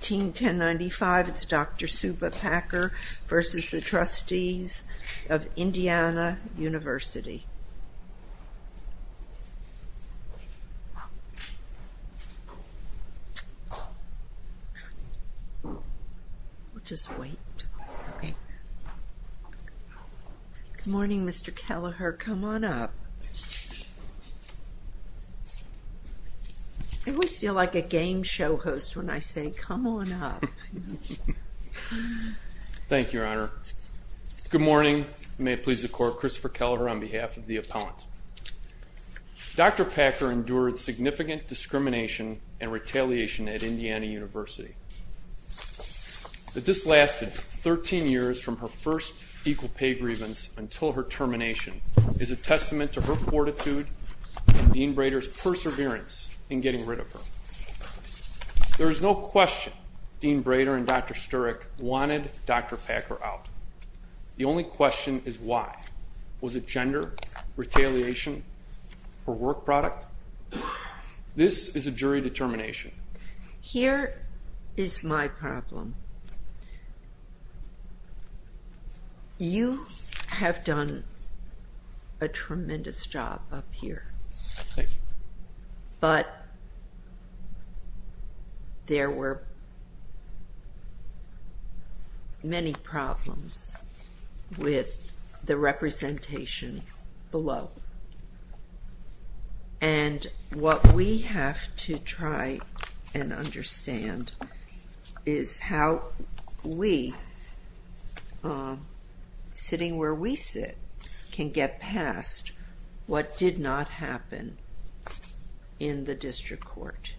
Team 1095, it's Dr. Subah Packer v. Trustees of Indiana University. Good morning, Mr. Kelleher. Come on up. I always feel like a game show host when I say, come on up. Thank you, Your Honor. Good morning. May it please the court, Christopher Kelleher on behalf of the opponent. Dr. Packer endured significant discrimination and retaliation at Indiana University. The dislasted 13 years from her first equal pay grievance until her termination is a testament to her fortitude and Dean Brader's perseverance in getting rid of her. There is no question Dean Brader and Dr. Sturek wanted Dr. Packer out. The only question is why. Was it gender, retaliation, or work product? This is a jury determination. Here is my problem. You have done a tremendous job up here. Thank you. But there were many problems with the representation below. And what we have to try and understand is how we, sitting where we sit, can get past what did not happen in the district court.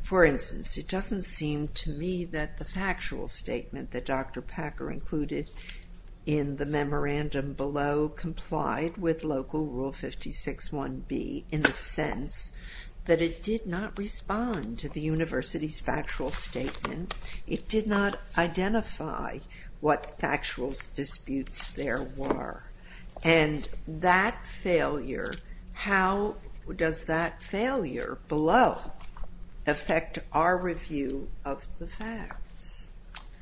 For instance, it does not seem to me that the factual statement that Dr. Packer included in the memorandum below complied with Local Rule 56-1B in the sense that it did not respond to the university's factual statement. It did not identify what factual disputes there were. And that failure, how does that failure below affect our review of the facts?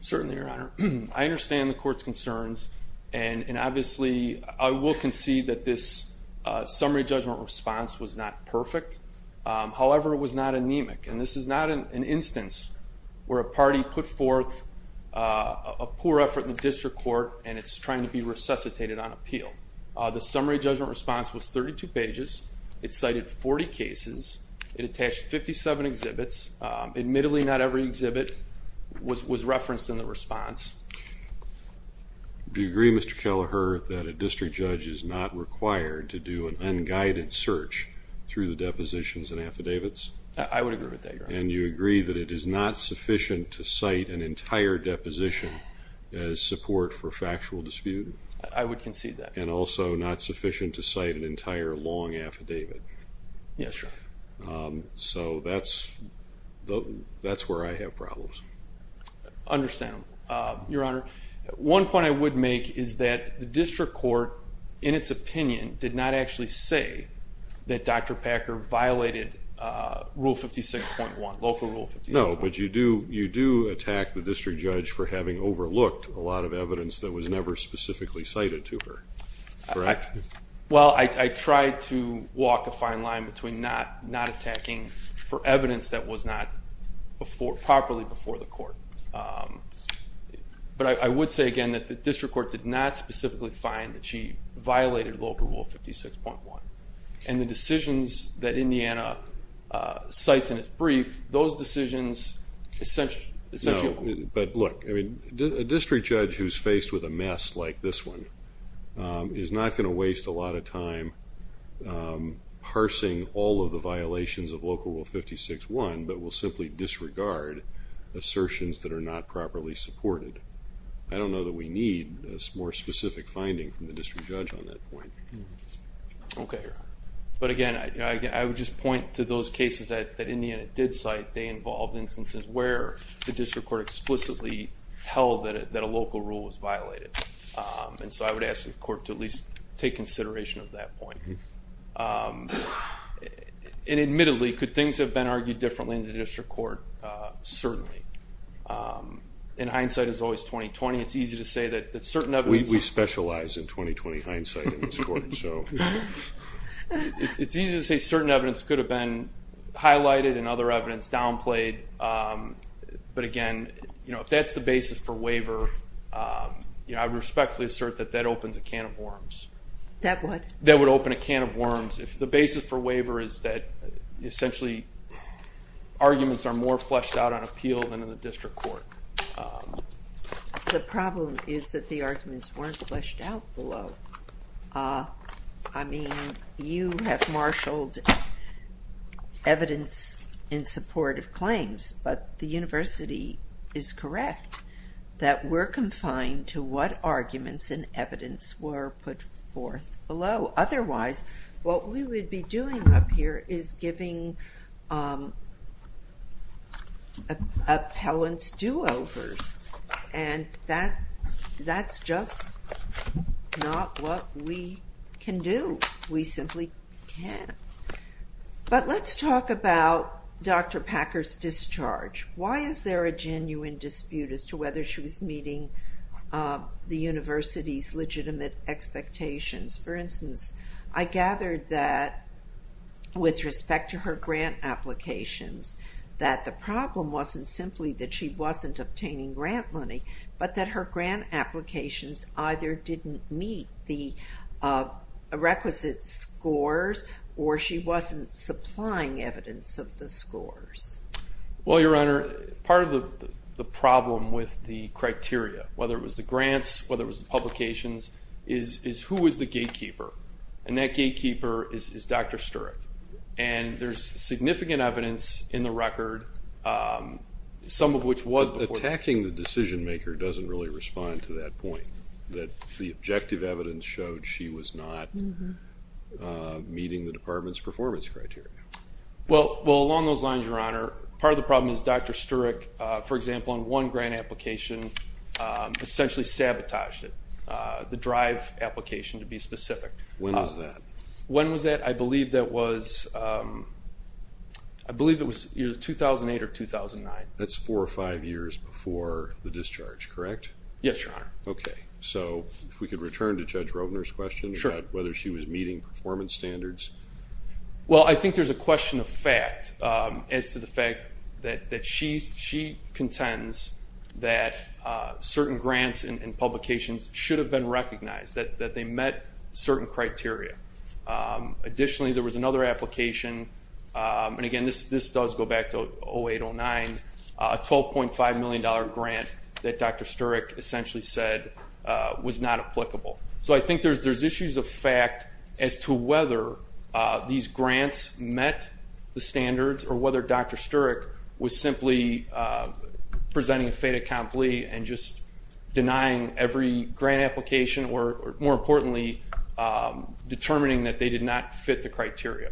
Certainly, Your Honor. I understand the court's concerns and obviously I will concede that this summary judgment response was not perfect. However, it was not anemic. And this is not an instance where a party put forth a poor effort in the district court and it is trying to be resuscitated on appeal. The summary judgment response was 32 pages. It cited 40 cases. It attached 57 exhibits. Admittedly, not every exhibit was referenced in the response. Do you agree, Mr. Kelleher, that a district judge is not required to do an unguided search through the depositions and affidavits? I would agree with that, Your Honor. And you agree that it is not sufficient to cite an entire deposition as support for factual dispute? I would concede that. And also not sufficient to cite an entire long affidavit? Yes, Your Honor. So that's where I have problems. Understandable, Your Honor. One point I would make is that the district court, in its opinion, did not actually say that Dr. Packer violated Rule 56.1, local Rule 56.1. No, but you do attack the district judge for having overlooked a lot of evidence that was never specifically cited to her, correct? Well, I tried to walk a fine line between not attacking for evidence that was not properly before the court. But I would say again that the district court did not specifically find that she violated local Rule 56.1. And the decisions that Indiana cites in its brief, those decisions essentially... parsing all of the violations of local Rule 56.1, but will simply disregard assertions that are not properly supported. I don't know that we need a more specific finding from the district judge on that point. Okay, Your Honor. But again, I would just point to those cases that Indiana did cite. They involved instances where the district court explicitly held that a local rule was violated. And so I would ask the court to at least take consideration of that point. And admittedly, could things have been argued differently in the district court? Certainly. In hindsight, as always, 2020, it's easy to say that certain evidence... We specialize in 2020 hindsight in this court, so... It's easy to say certain evidence could have been highlighted and other evidence downplayed. But again, if that's the basis for waiver, I would respectfully assert that that opens a can of worms. That would? That would open a can of worms. If the basis for waiver is that, essentially, arguments are more fleshed out on appeal than in the district court. The problem is that the arguments weren't fleshed out below. I mean, you have marshaled evidence in support of claims, but the university is correct that we're confined to what arguments and evidence were put forth below. Otherwise, what we would be doing up here is giving appellants do-overs. And that's just not what we can do. We simply can't. But, let's talk about Dr. Packer's discharge. Why is there a genuine dispute as to whether she was meeting the university's legitimate expectations? For instance, I gathered that, with respect to her grant applications, that the problem wasn't simply that she wasn't obtaining grant money, but that her grant applications either didn't meet the requisite scores or she wasn't supplying evidence of the scores. Well, Your Honor, part of the problem with the criteria, whether it was the grants, whether it was the publications, is who is the gatekeeper? And that gatekeeper is Dr. Sturek. And there's significant evidence in the record, some of which was before... But attacking the decision-maker doesn't really respond to that point, that the objective evidence showed she was not meeting the department's performance criteria. Well, along those lines, Your Honor, part of the problem is Dr. Sturek, for example, on one grant application, essentially sabotaged it. The drive application, to be specific. When was that? When was that? I believe that was 2008 or 2009. That's four or five years before the discharge, correct? Yes, Your Honor. Okay. So if we could return to Judge Rovner's question about whether she was meeting performance standards. Well, I think there's a question of fact as to the fact that she contends that certain grants and publications should have been recognized, that they met certain criteria. Additionally, there was another application, and again, this does go back to 2008, 2009, a $12.5 million grant that Dr. Sturek essentially said was not applicable. So I think there's issues of fact as to whether these grants met the standards or whether Dr. Sturek was simply presenting a fait accompli and just denying every grant application or, more importantly, determining that they did not fit the criteria.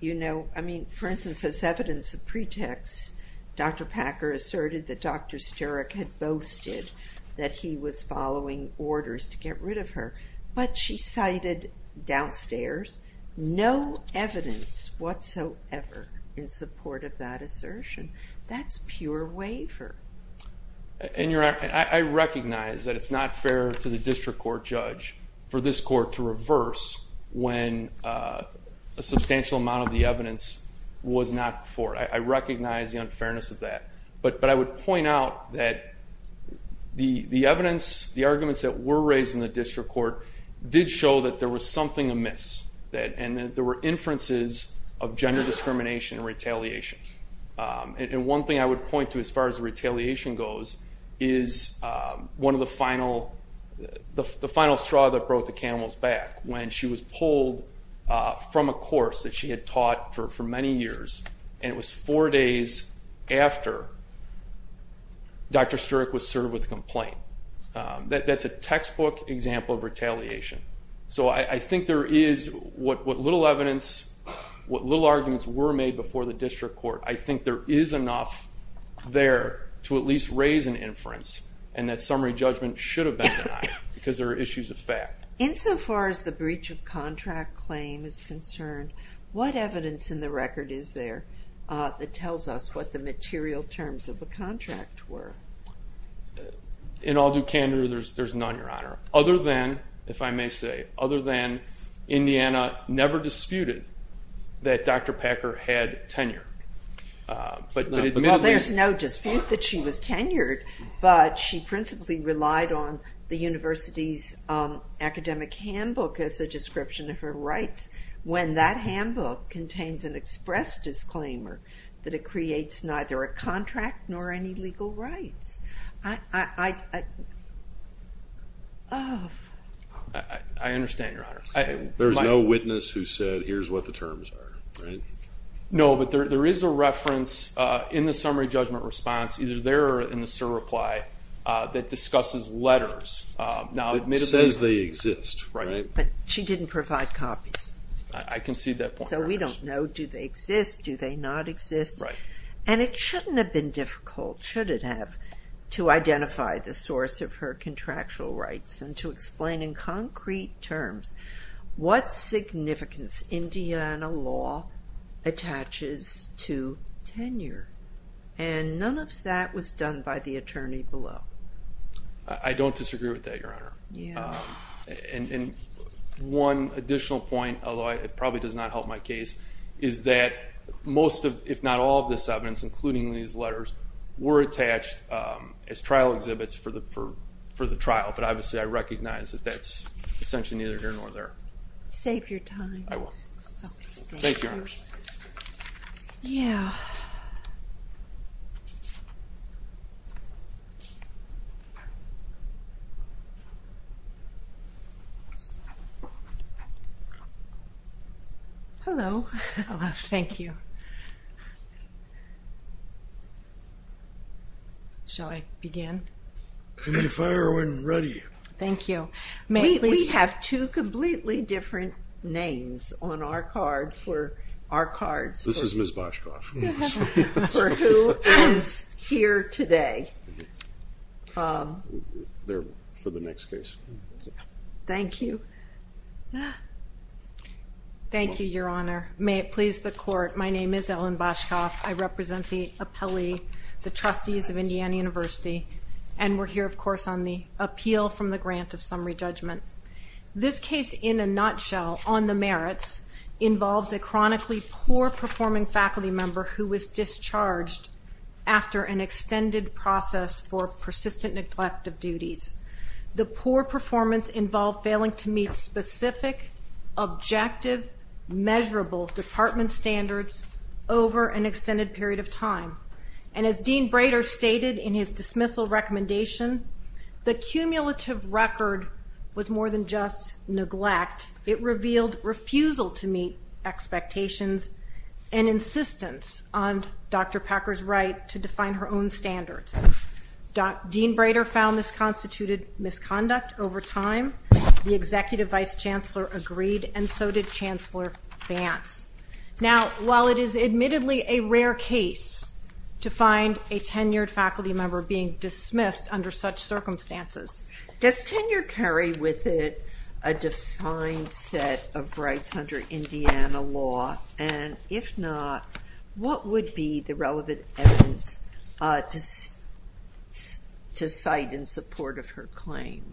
You know, I mean, for instance, as evidence of pretext, Dr. Packer asserted that Dr. Sturek had boasted that he was following orders to get rid of her. But she cited downstairs no evidence whatsoever in support of that assertion. That's pure waiver. And I recognize that it's not fair to the district court judge for this court to reverse when a substantial amount of the evidence was not for it. I recognize the unfairness of that. But I would point out that the evidence, the arguments that were raised in the district court, did show that there was something amiss, and that there were inferences of gender discrimination and retaliation. And one thing I would point to as far as the retaliation goes is one of the final straw that brought the camels back when she was pulled from a course that she had taught for many years, and it was four days after Dr. Sturek was served with a complaint. That's a textbook example of retaliation. So I think there is what little evidence, what little arguments were made before the district court, I think there is enough there to at least raise an inference, and that summary judgment should have been denied because there are issues of fact. Insofar as the breach of contract claim is concerned, what evidence in the record is there that tells us what the material terms of the contract were? In all due candor, there's none, Your Honor, other than, if I may say, other than Indiana never disputed that Dr. Packer had tenure. There's no dispute that she was tenured, but she principally relied on the university's academic handbook as a description of her rights when that handbook contains an express disclaimer that it creates neither a contract nor any legal rights. I understand, Your Honor. There's no witness who said, here's what the terms are, right? No, but there is a reference in the summary judgment response, either there or in the SIR reply, that discusses letters. It says they exist, right? But she didn't provide copies. I can see that point. So we don't know, do they exist, do they not exist? And it shouldn't have been difficult, should it have, to identify the source of her contractual rights and to explain in concrete terms what significance Indiana law attaches to tenure. And none of that was done by the attorney below. I don't disagree with that, Your Honor. And one additional point, although it probably does not help my case, is that most, if not all, of this evidence, including these letters, were attached as trial exhibits for the trial. But obviously I recognize that that's essentially neither here nor there. Save your time. I will. Thank you, Your Honors. Yeah. Hello. Hello. Thank you. Shall I begin? You may fire when ready. Thank you. We have two completely different names on our card for our cards. This is Ms. Boshkoff. For who is here today. They're for the next case. Thank you. Thank you, Your Honor. May it please the Court, my name is Ellen Boshkoff. I represent the appellee, the trustees of Indiana University, and we're here, of course, on the appeal from the grant of summary judgment. This case, in a nutshell, on the merits, involves a chronically poor-performing faculty member who was discharged after an extended process for persistent neglect of duties. The poor performance involved failing to meet specific, objective, measurable department standards over an extended period of time. And as Dean Brader stated in his dismissal recommendation, the cumulative record was more than just neglect. It revealed refusal to meet expectations and insistence on Dr. Packer's right to define her own standards. Dean Brader found this constituted misconduct over time. The Executive Vice Chancellor agreed, and so did Chancellor Vance. Now, while it is admittedly a rare case to find a tenured faculty member being dismissed under such circumstances. Does tenure carry with it a defined set of rights under Indiana law? And if not, what would be the relevant evidence to cite in support of her claim?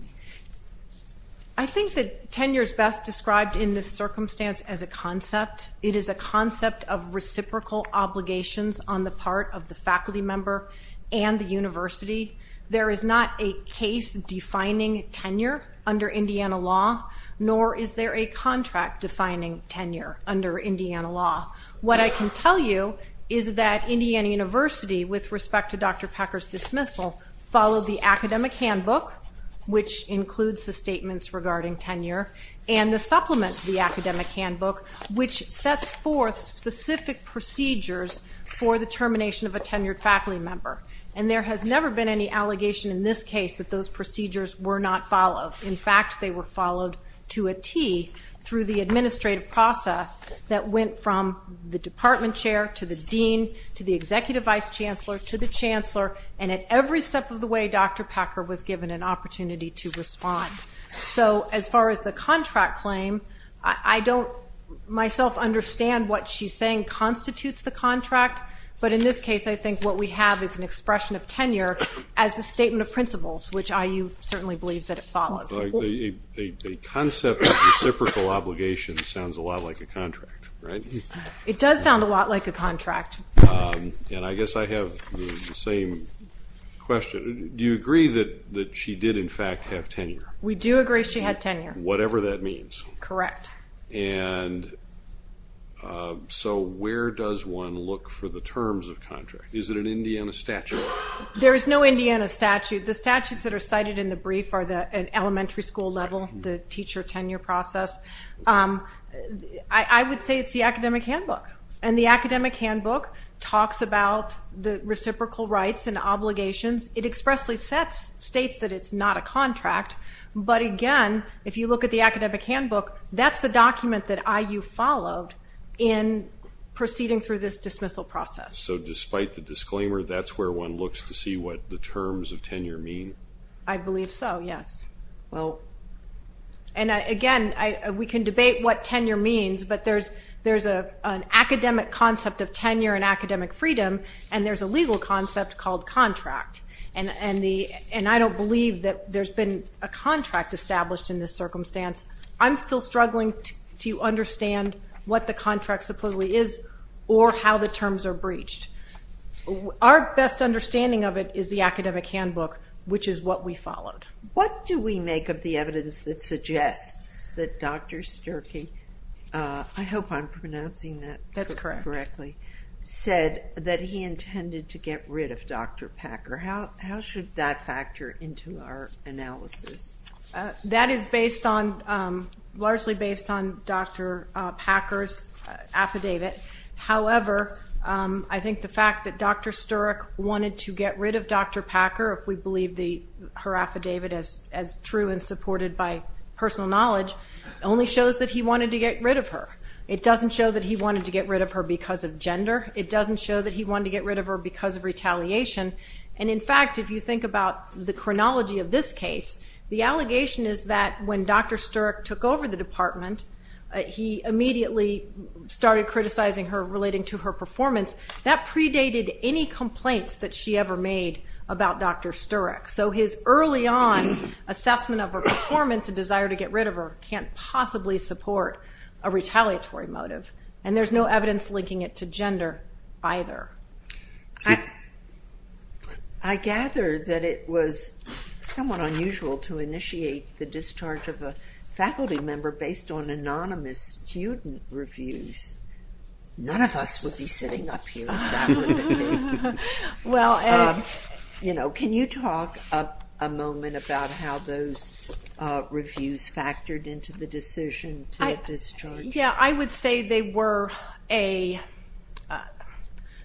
I think that tenure is best described in this circumstance as a concept. It is a concept of reciprocal obligations on the part of the faculty member and the university. There is not a case defining tenure under Indiana law, nor is there a contract defining tenure under Indiana law. What I can tell you is that Indiana University, with respect to Dr. Packer's dismissal, followed the academic handbook, which includes the statements regarding tenure, and the supplement to the academic handbook, which sets forth specific procedures for the termination of a tenured faculty member. And there has never been any allegation in this case that those procedures were not followed. In fact, they were followed to a T through the administrative process that went from the department chair to the dean to the executive vice chancellor to the chancellor, and at every step of the way, Dr. Packer was given an opportunity to respond. So as far as the contract claim, I don't myself understand what she's saying constitutes the contract, but in this case I think what we have is an expression of tenure as a statement of principles, which IU certainly believes that it followed. The concept of reciprocal obligations sounds a lot like a contract, right? It does sound a lot like a contract. And I guess I have the same question. Do you agree that she did, in fact, have tenure? We do agree she had tenure. Whatever that means. Correct. And so where does one look for the terms of contract? Is it an Indiana statute? There is no Indiana statute. The statutes that are cited in the brief are at elementary school level, the teacher tenure process. I would say it's the academic handbook, and the academic handbook talks about the reciprocal rights and obligations. It expressly states that it's not a contract. But, again, if you look at the academic handbook, that's the document that IU followed in proceeding through this dismissal process. So despite the disclaimer, that's where one looks to see what the terms of tenure mean? I believe so, yes. And, again, we can debate what tenure means, but there's an academic concept of tenure and academic freedom, and there's a legal concept called contract. And I don't believe that there's been a contract established in this circumstance. I'm still struggling to understand what the contract supposedly is or how the terms are breached. Our best understanding of it is the academic handbook, which is what we followed. What do we make of the evidence that suggests that Dr. Sturkey, I hope I'm pronouncing that correctly, said that he intended to get rid of Dr. Packer? How should that factor into our analysis? That is largely based on Dr. Packer's affidavit. However, I think the fact that Dr. Sturkey wanted to get rid of Dr. Packer, if we believe her affidavit as true and supported by personal knowledge, only shows that he wanted to get rid of her. It doesn't show that he wanted to get rid of her because of gender. It doesn't show that he wanted to get rid of her because of retaliation. And, in fact, if you think about the chronology of this case, the allegation is that when Dr. Sturkey took over the department, he immediately started criticizing her relating to her performance. That predated any complaints that she ever made about Dr. Sturek. So his early on assessment of her performance and desire to get rid of her can't possibly support a retaliatory motive. And there's no evidence linking it to gender either. I gather that it was somewhat unusual to initiate the discharge of a faculty member based on anonymous student reviews. None of us would be sitting up here if that were the case. Can you talk a moment about how those reviews factored into the decision to get discharged? I would say they were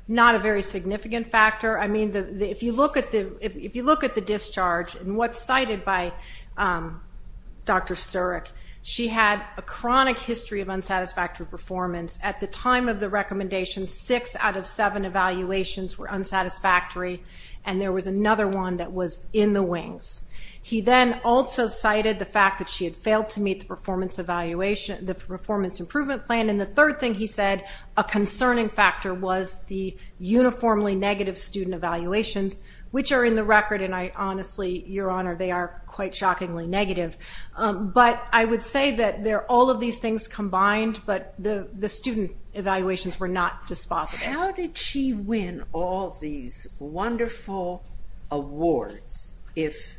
not a very significant factor. If you look at the discharge and what's cited by Dr. Sturek, she had a chronic history of unsatisfactory performance. At the time of the recommendation, six out of seven evaluations were unsatisfactory, and there was another one that was in the wings. He then also cited the fact that she had failed to meet the performance improvement plan. And the third thing he said a concerning factor was the uniformly negative student evaluations, which are in the record, and I honestly, Your Honor, they are quite shockingly negative. But I would say that they're all of these things combined, but the student evaluations were not dispositive. How did she win all these wonderful awards if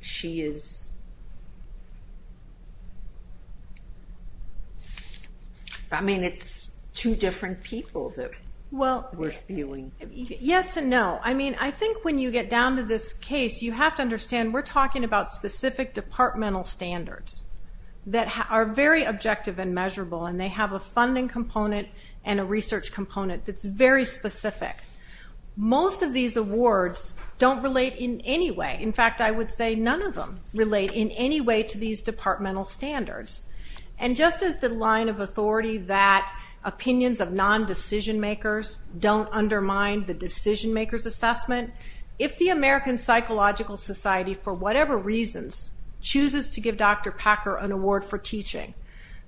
she is... I mean, it's two different people that we're viewing. Yes and no. I mean, I think when you get down to this case, you have to understand we're talking about specific departmental standards that are very objective and measurable, and they have a funding component and a research component that's very specific. Most of these awards don't relate in any way. In fact, I would say none of them relate in any way to these departmental standards. And just as the line of authority that opinions of non-decision-makers don't undermine the decision-maker's assessment, if the American Psychological Society, for whatever reasons, chooses to give Dr. Packer an award for teaching,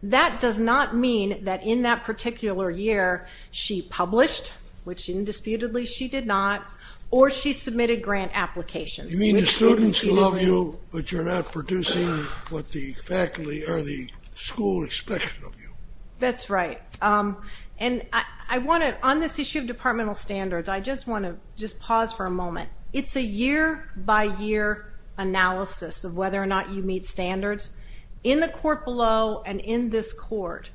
that does not mean that in that particular year she published, which indisputably she did not, or she submitted grant applications. You mean the students love you, but you're not producing what the faculty or the school expects of you. That's right. And on this issue of departmental standards, I just want to just pause for a moment. It's a year-by-year analysis of whether or not you meet standards. In the court below and in this court,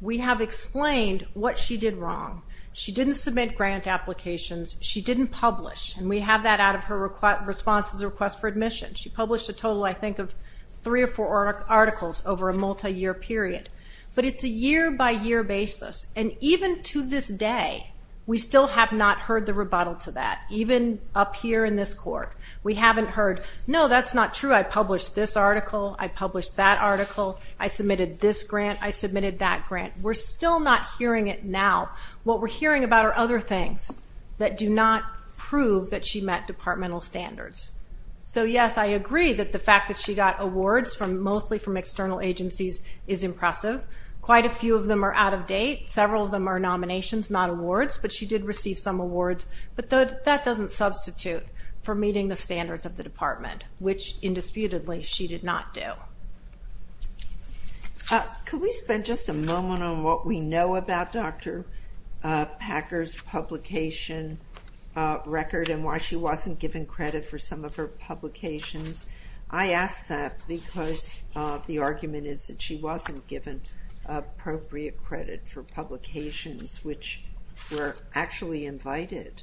we have explained what she did wrong. She didn't submit grant applications. She didn't publish, and we have that out of her response to the request for admission. She published a total, I think, of three or four articles over a multi-year period. But it's a year-by-year basis. And even to this day, we still have not heard the rebuttal to that. Even up here in this court, we haven't heard, no, that's not true, I published this article, I published that article, I submitted this grant, I submitted that grant. We're still not hearing it now. What we're hearing about are other things that do not prove that she met departmental standards. So, yes, I agree that the fact that she got awards mostly from external agencies is impressive. Quite a few of them are out of date. Several of them are nominations, not awards. But she did receive some awards. But that doesn't substitute for meeting the standards of the department, which, indisputably, she did not do. Could we spend just a moment on what we know about Dr. Packer's publication record and why she wasn't given credit for some of her publications? I ask that because the argument is that she wasn't given appropriate credit for publications which were actually invited.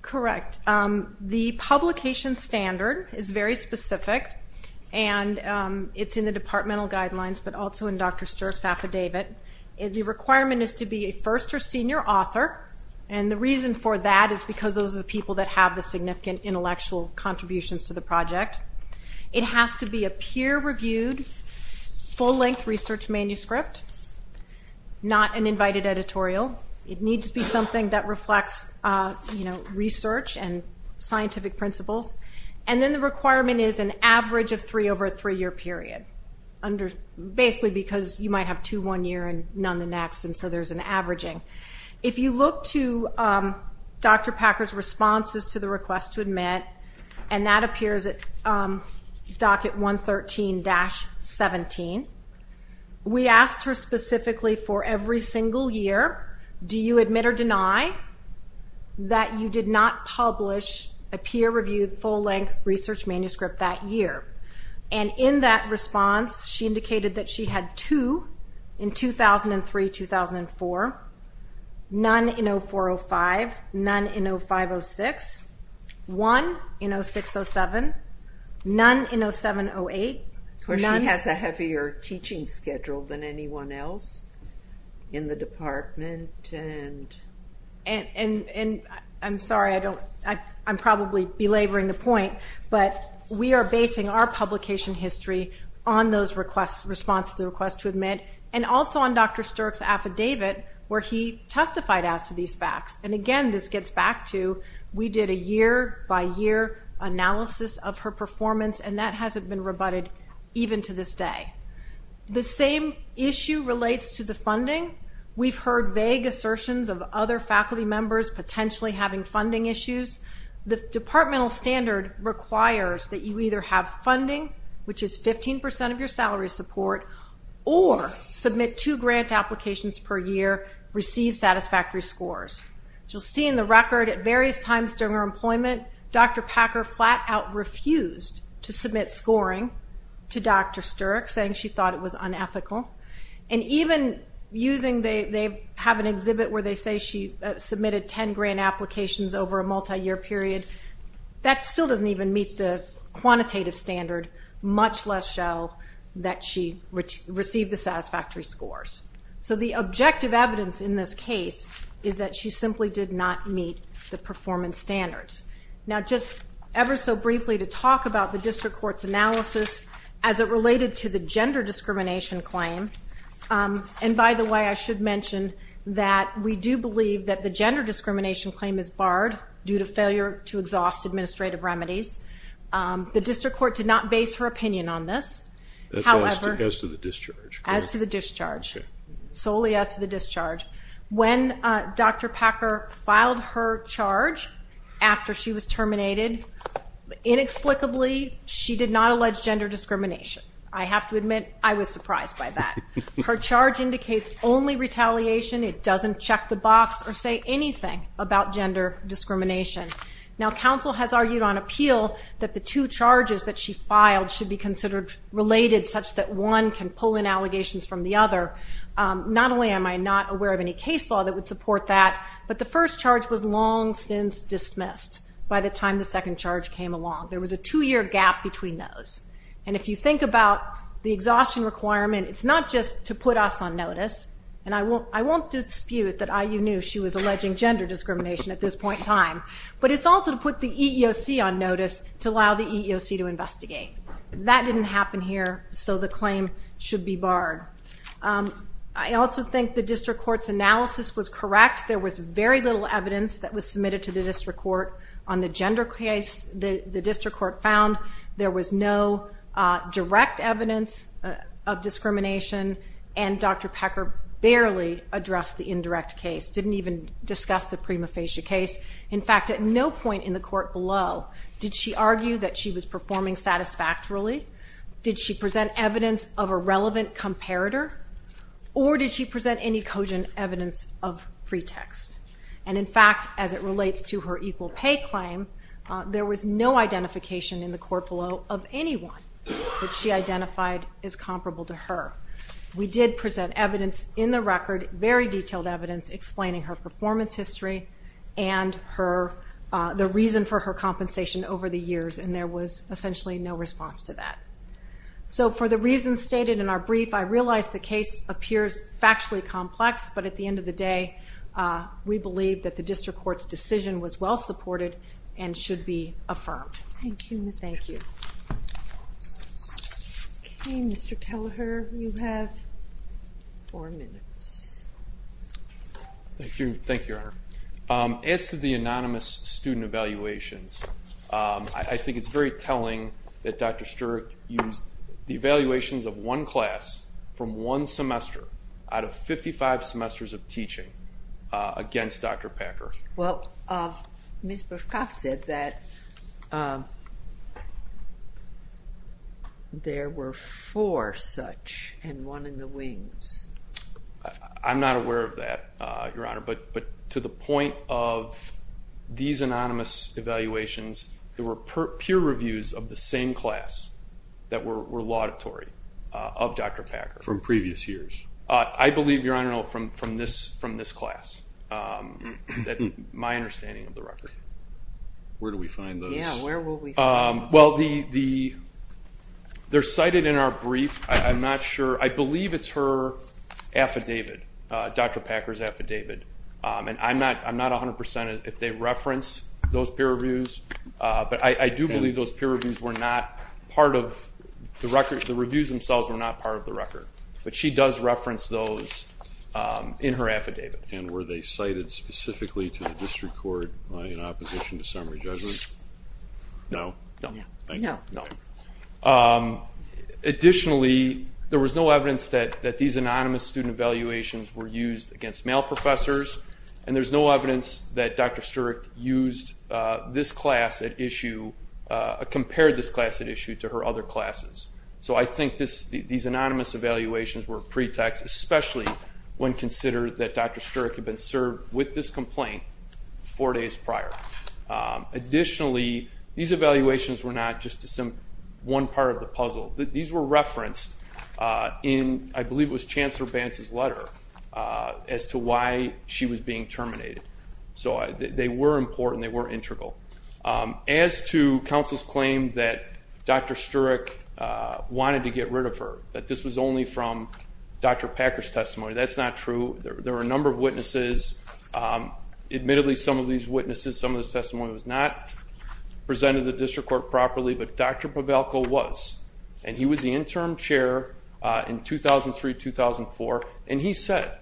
Correct. The publication standard is very specific, and it's in the departmental guidelines but also in Dr. Stirk's affidavit. The requirement is to be a first or senior author, and the reason for that is because those are the people that have the significant intellectual contributions to the project. It has to be a peer-reviewed, full-length research manuscript, not an invited editorial. It needs to be something that reflects research and scientific principles. And then the requirement is an average of three over a three-year period, basically because you might have two one year and none the next, and so there's an averaging. If you look to Dr. Packer's responses to the request to admit, and that appears at docket 113-17, we asked her specifically for every single year, do you admit or deny that you did not publish a peer-reviewed, full-length research manuscript that year? And in that response, she indicated that she had two in 2003-2004, none in 04-05, none in 05-06, one in 06-07, none in 07-08. Of course, she has a heavier teaching schedule than anyone else in the department. And I'm sorry, I'm probably belaboring the point, but we are basing our publication history on those responses to the request to admit, and also on Dr. Stirk's affidavit, where he testified as to these facts. And again, this gets back to we did a year-by-year analysis of her performance, and that hasn't been rebutted even to this day. The same issue relates to the funding. We've heard vague assertions of other faculty members potentially having funding issues. The departmental standard requires that you either have funding, which is 15% of your salary support, or submit two grant applications per year, receive satisfactory scores. As you'll see in the record, at various times during her employment, Dr. Packer flat-out refused to submit scoring to Dr. Stirk, saying she thought it was unethical. And even using the exhibit where they say she submitted ten grant applications over a multi-year period, that still doesn't even meet the quantitative standard, much less show that she received the satisfactory scores. So the objective evidence in this case is that she simply did not meet the performance standards. Now just ever so briefly to talk about the district court's analysis as it related to the gender discrimination claim. And by the way, I should mention that we do believe that the gender discrimination claim is barred due to failure to exhaust administrative remedies. The district court did not base her opinion on this. That's as to the discharge. As to the discharge, solely as to the discharge. When Dr. Packer filed her charge after she was terminated, inexplicably she did not allege gender discrimination. I have to admit I was surprised by that. Her charge indicates only retaliation. It doesn't check the box or say anything about gender discrimination. Now counsel has argued on appeal that the two charges that she filed should be considered related such that one can pull in allegations from the other. Not only am I not aware of any case law that would support that, but the first charge was long since dismissed by the time the second charge came along. There was a two-year gap between those. And if you think about the exhaustion requirement, it's not just to put us on notice. And I won't dispute that IU knew she was alleging gender discrimination at this point in time, but it's also to put the EEOC on notice to allow the EEOC to investigate. That didn't happen here, so the claim should be barred. I also think the district court's analysis was correct. There was very little evidence that was submitted to the district court on the gender case. The district court found there was no direct evidence of discrimination, and Dr. Pecker barely addressed the indirect case, didn't even discuss the prima facie case. In fact, at no point in the court below did she argue that she was performing satisfactorily, did she present evidence of a relevant comparator, or did she present any cogent evidence of pretext. And in fact, as it relates to her equal pay claim, there was no identification in the court below of anyone that she identified as comparable to her. We did present evidence in the record, very detailed evidence, explaining her performance history and the reason for her compensation over the years, and there was essentially no response to that. So for the reasons stated in our brief, I realize the case appears factually complex, but at the end of the day, we believe that the district court's decision was well supported and should be affirmed. Thank you. Okay, Mr. Kelleher, you have four minutes. Thank you, thank you, Your Honor. As to the anonymous student evaluations, I think it's very telling that Dr. Sturek used the evaluations of one class from one semester out of 55 semesters of teaching against Dr. Packer. Well, Ms. Burschkopf said that there were four such and one in the wings. I'm not aware of that, Your Honor, but to the point of these anonymous evaluations, there were peer reviews of the same class that were laudatory of Dr. Packer. From previous years? I believe, Your Honor, from this class, my understanding of the record. Where do we find those? Yeah, where will we find those? Well, they're cited in our brief. I'm not sure. I believe it's her affidavit, Dr. Packer's affidavit, and I'm not 100% if they reference those peer reviews, but I do believe those peer reviews were not part of the record. The reviews themselves were not part of the record, but she does reference those in her affidavit. And were they cited specifically to the district court in opposition to summary judgment? No. No. Thank you. No. Additionally, there was no evidence that these anonymous student evaluations were used against male professors, and there's no evidence that Dr. Sturek used this class at issue, compared this class at issue to her other classes. So I think these anonymous evaluations were a pretext, especially when considered that Dr. Sturek had been served with this complaint four days prior. Additionally, these evaluations were not just one part of the puzzle. These were referenced in I believe it was Chancellor Bantz's letter as to why she was being terminated. So they were important. They were integral. As to counsel's claim that Dr. Sturek wanted to get rid of her, that this was only from Dr. Packer's testimony, that's not true. There were a number of witnesses. Admittedly, some of these witnesses, some of this testimony was not presented to the district court properly, but Dr. Pavelko was, and he was the interim chair in 2003-2004, and he said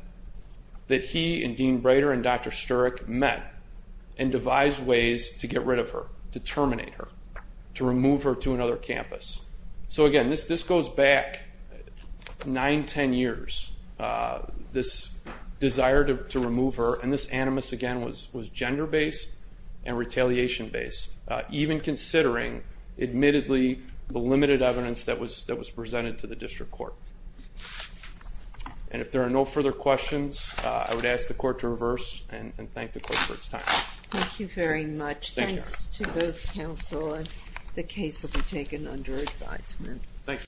that he and Dean Breider and Dr. Sturek met and devised ways to get rid of her, to terminate her, to remove her to another campus. So, again, this goes back 9, 10 years, this desire to remove her, and this, animus, again, was gender-based and retaliation-based. Even considering, admittedly, the limited evidence that was presented to the district court. And if there are no further questions, I would ask the court to reverse and thank the court for its time. Thank you very much. Thanks to both counsel. The case will be taken under advisement. Thank you.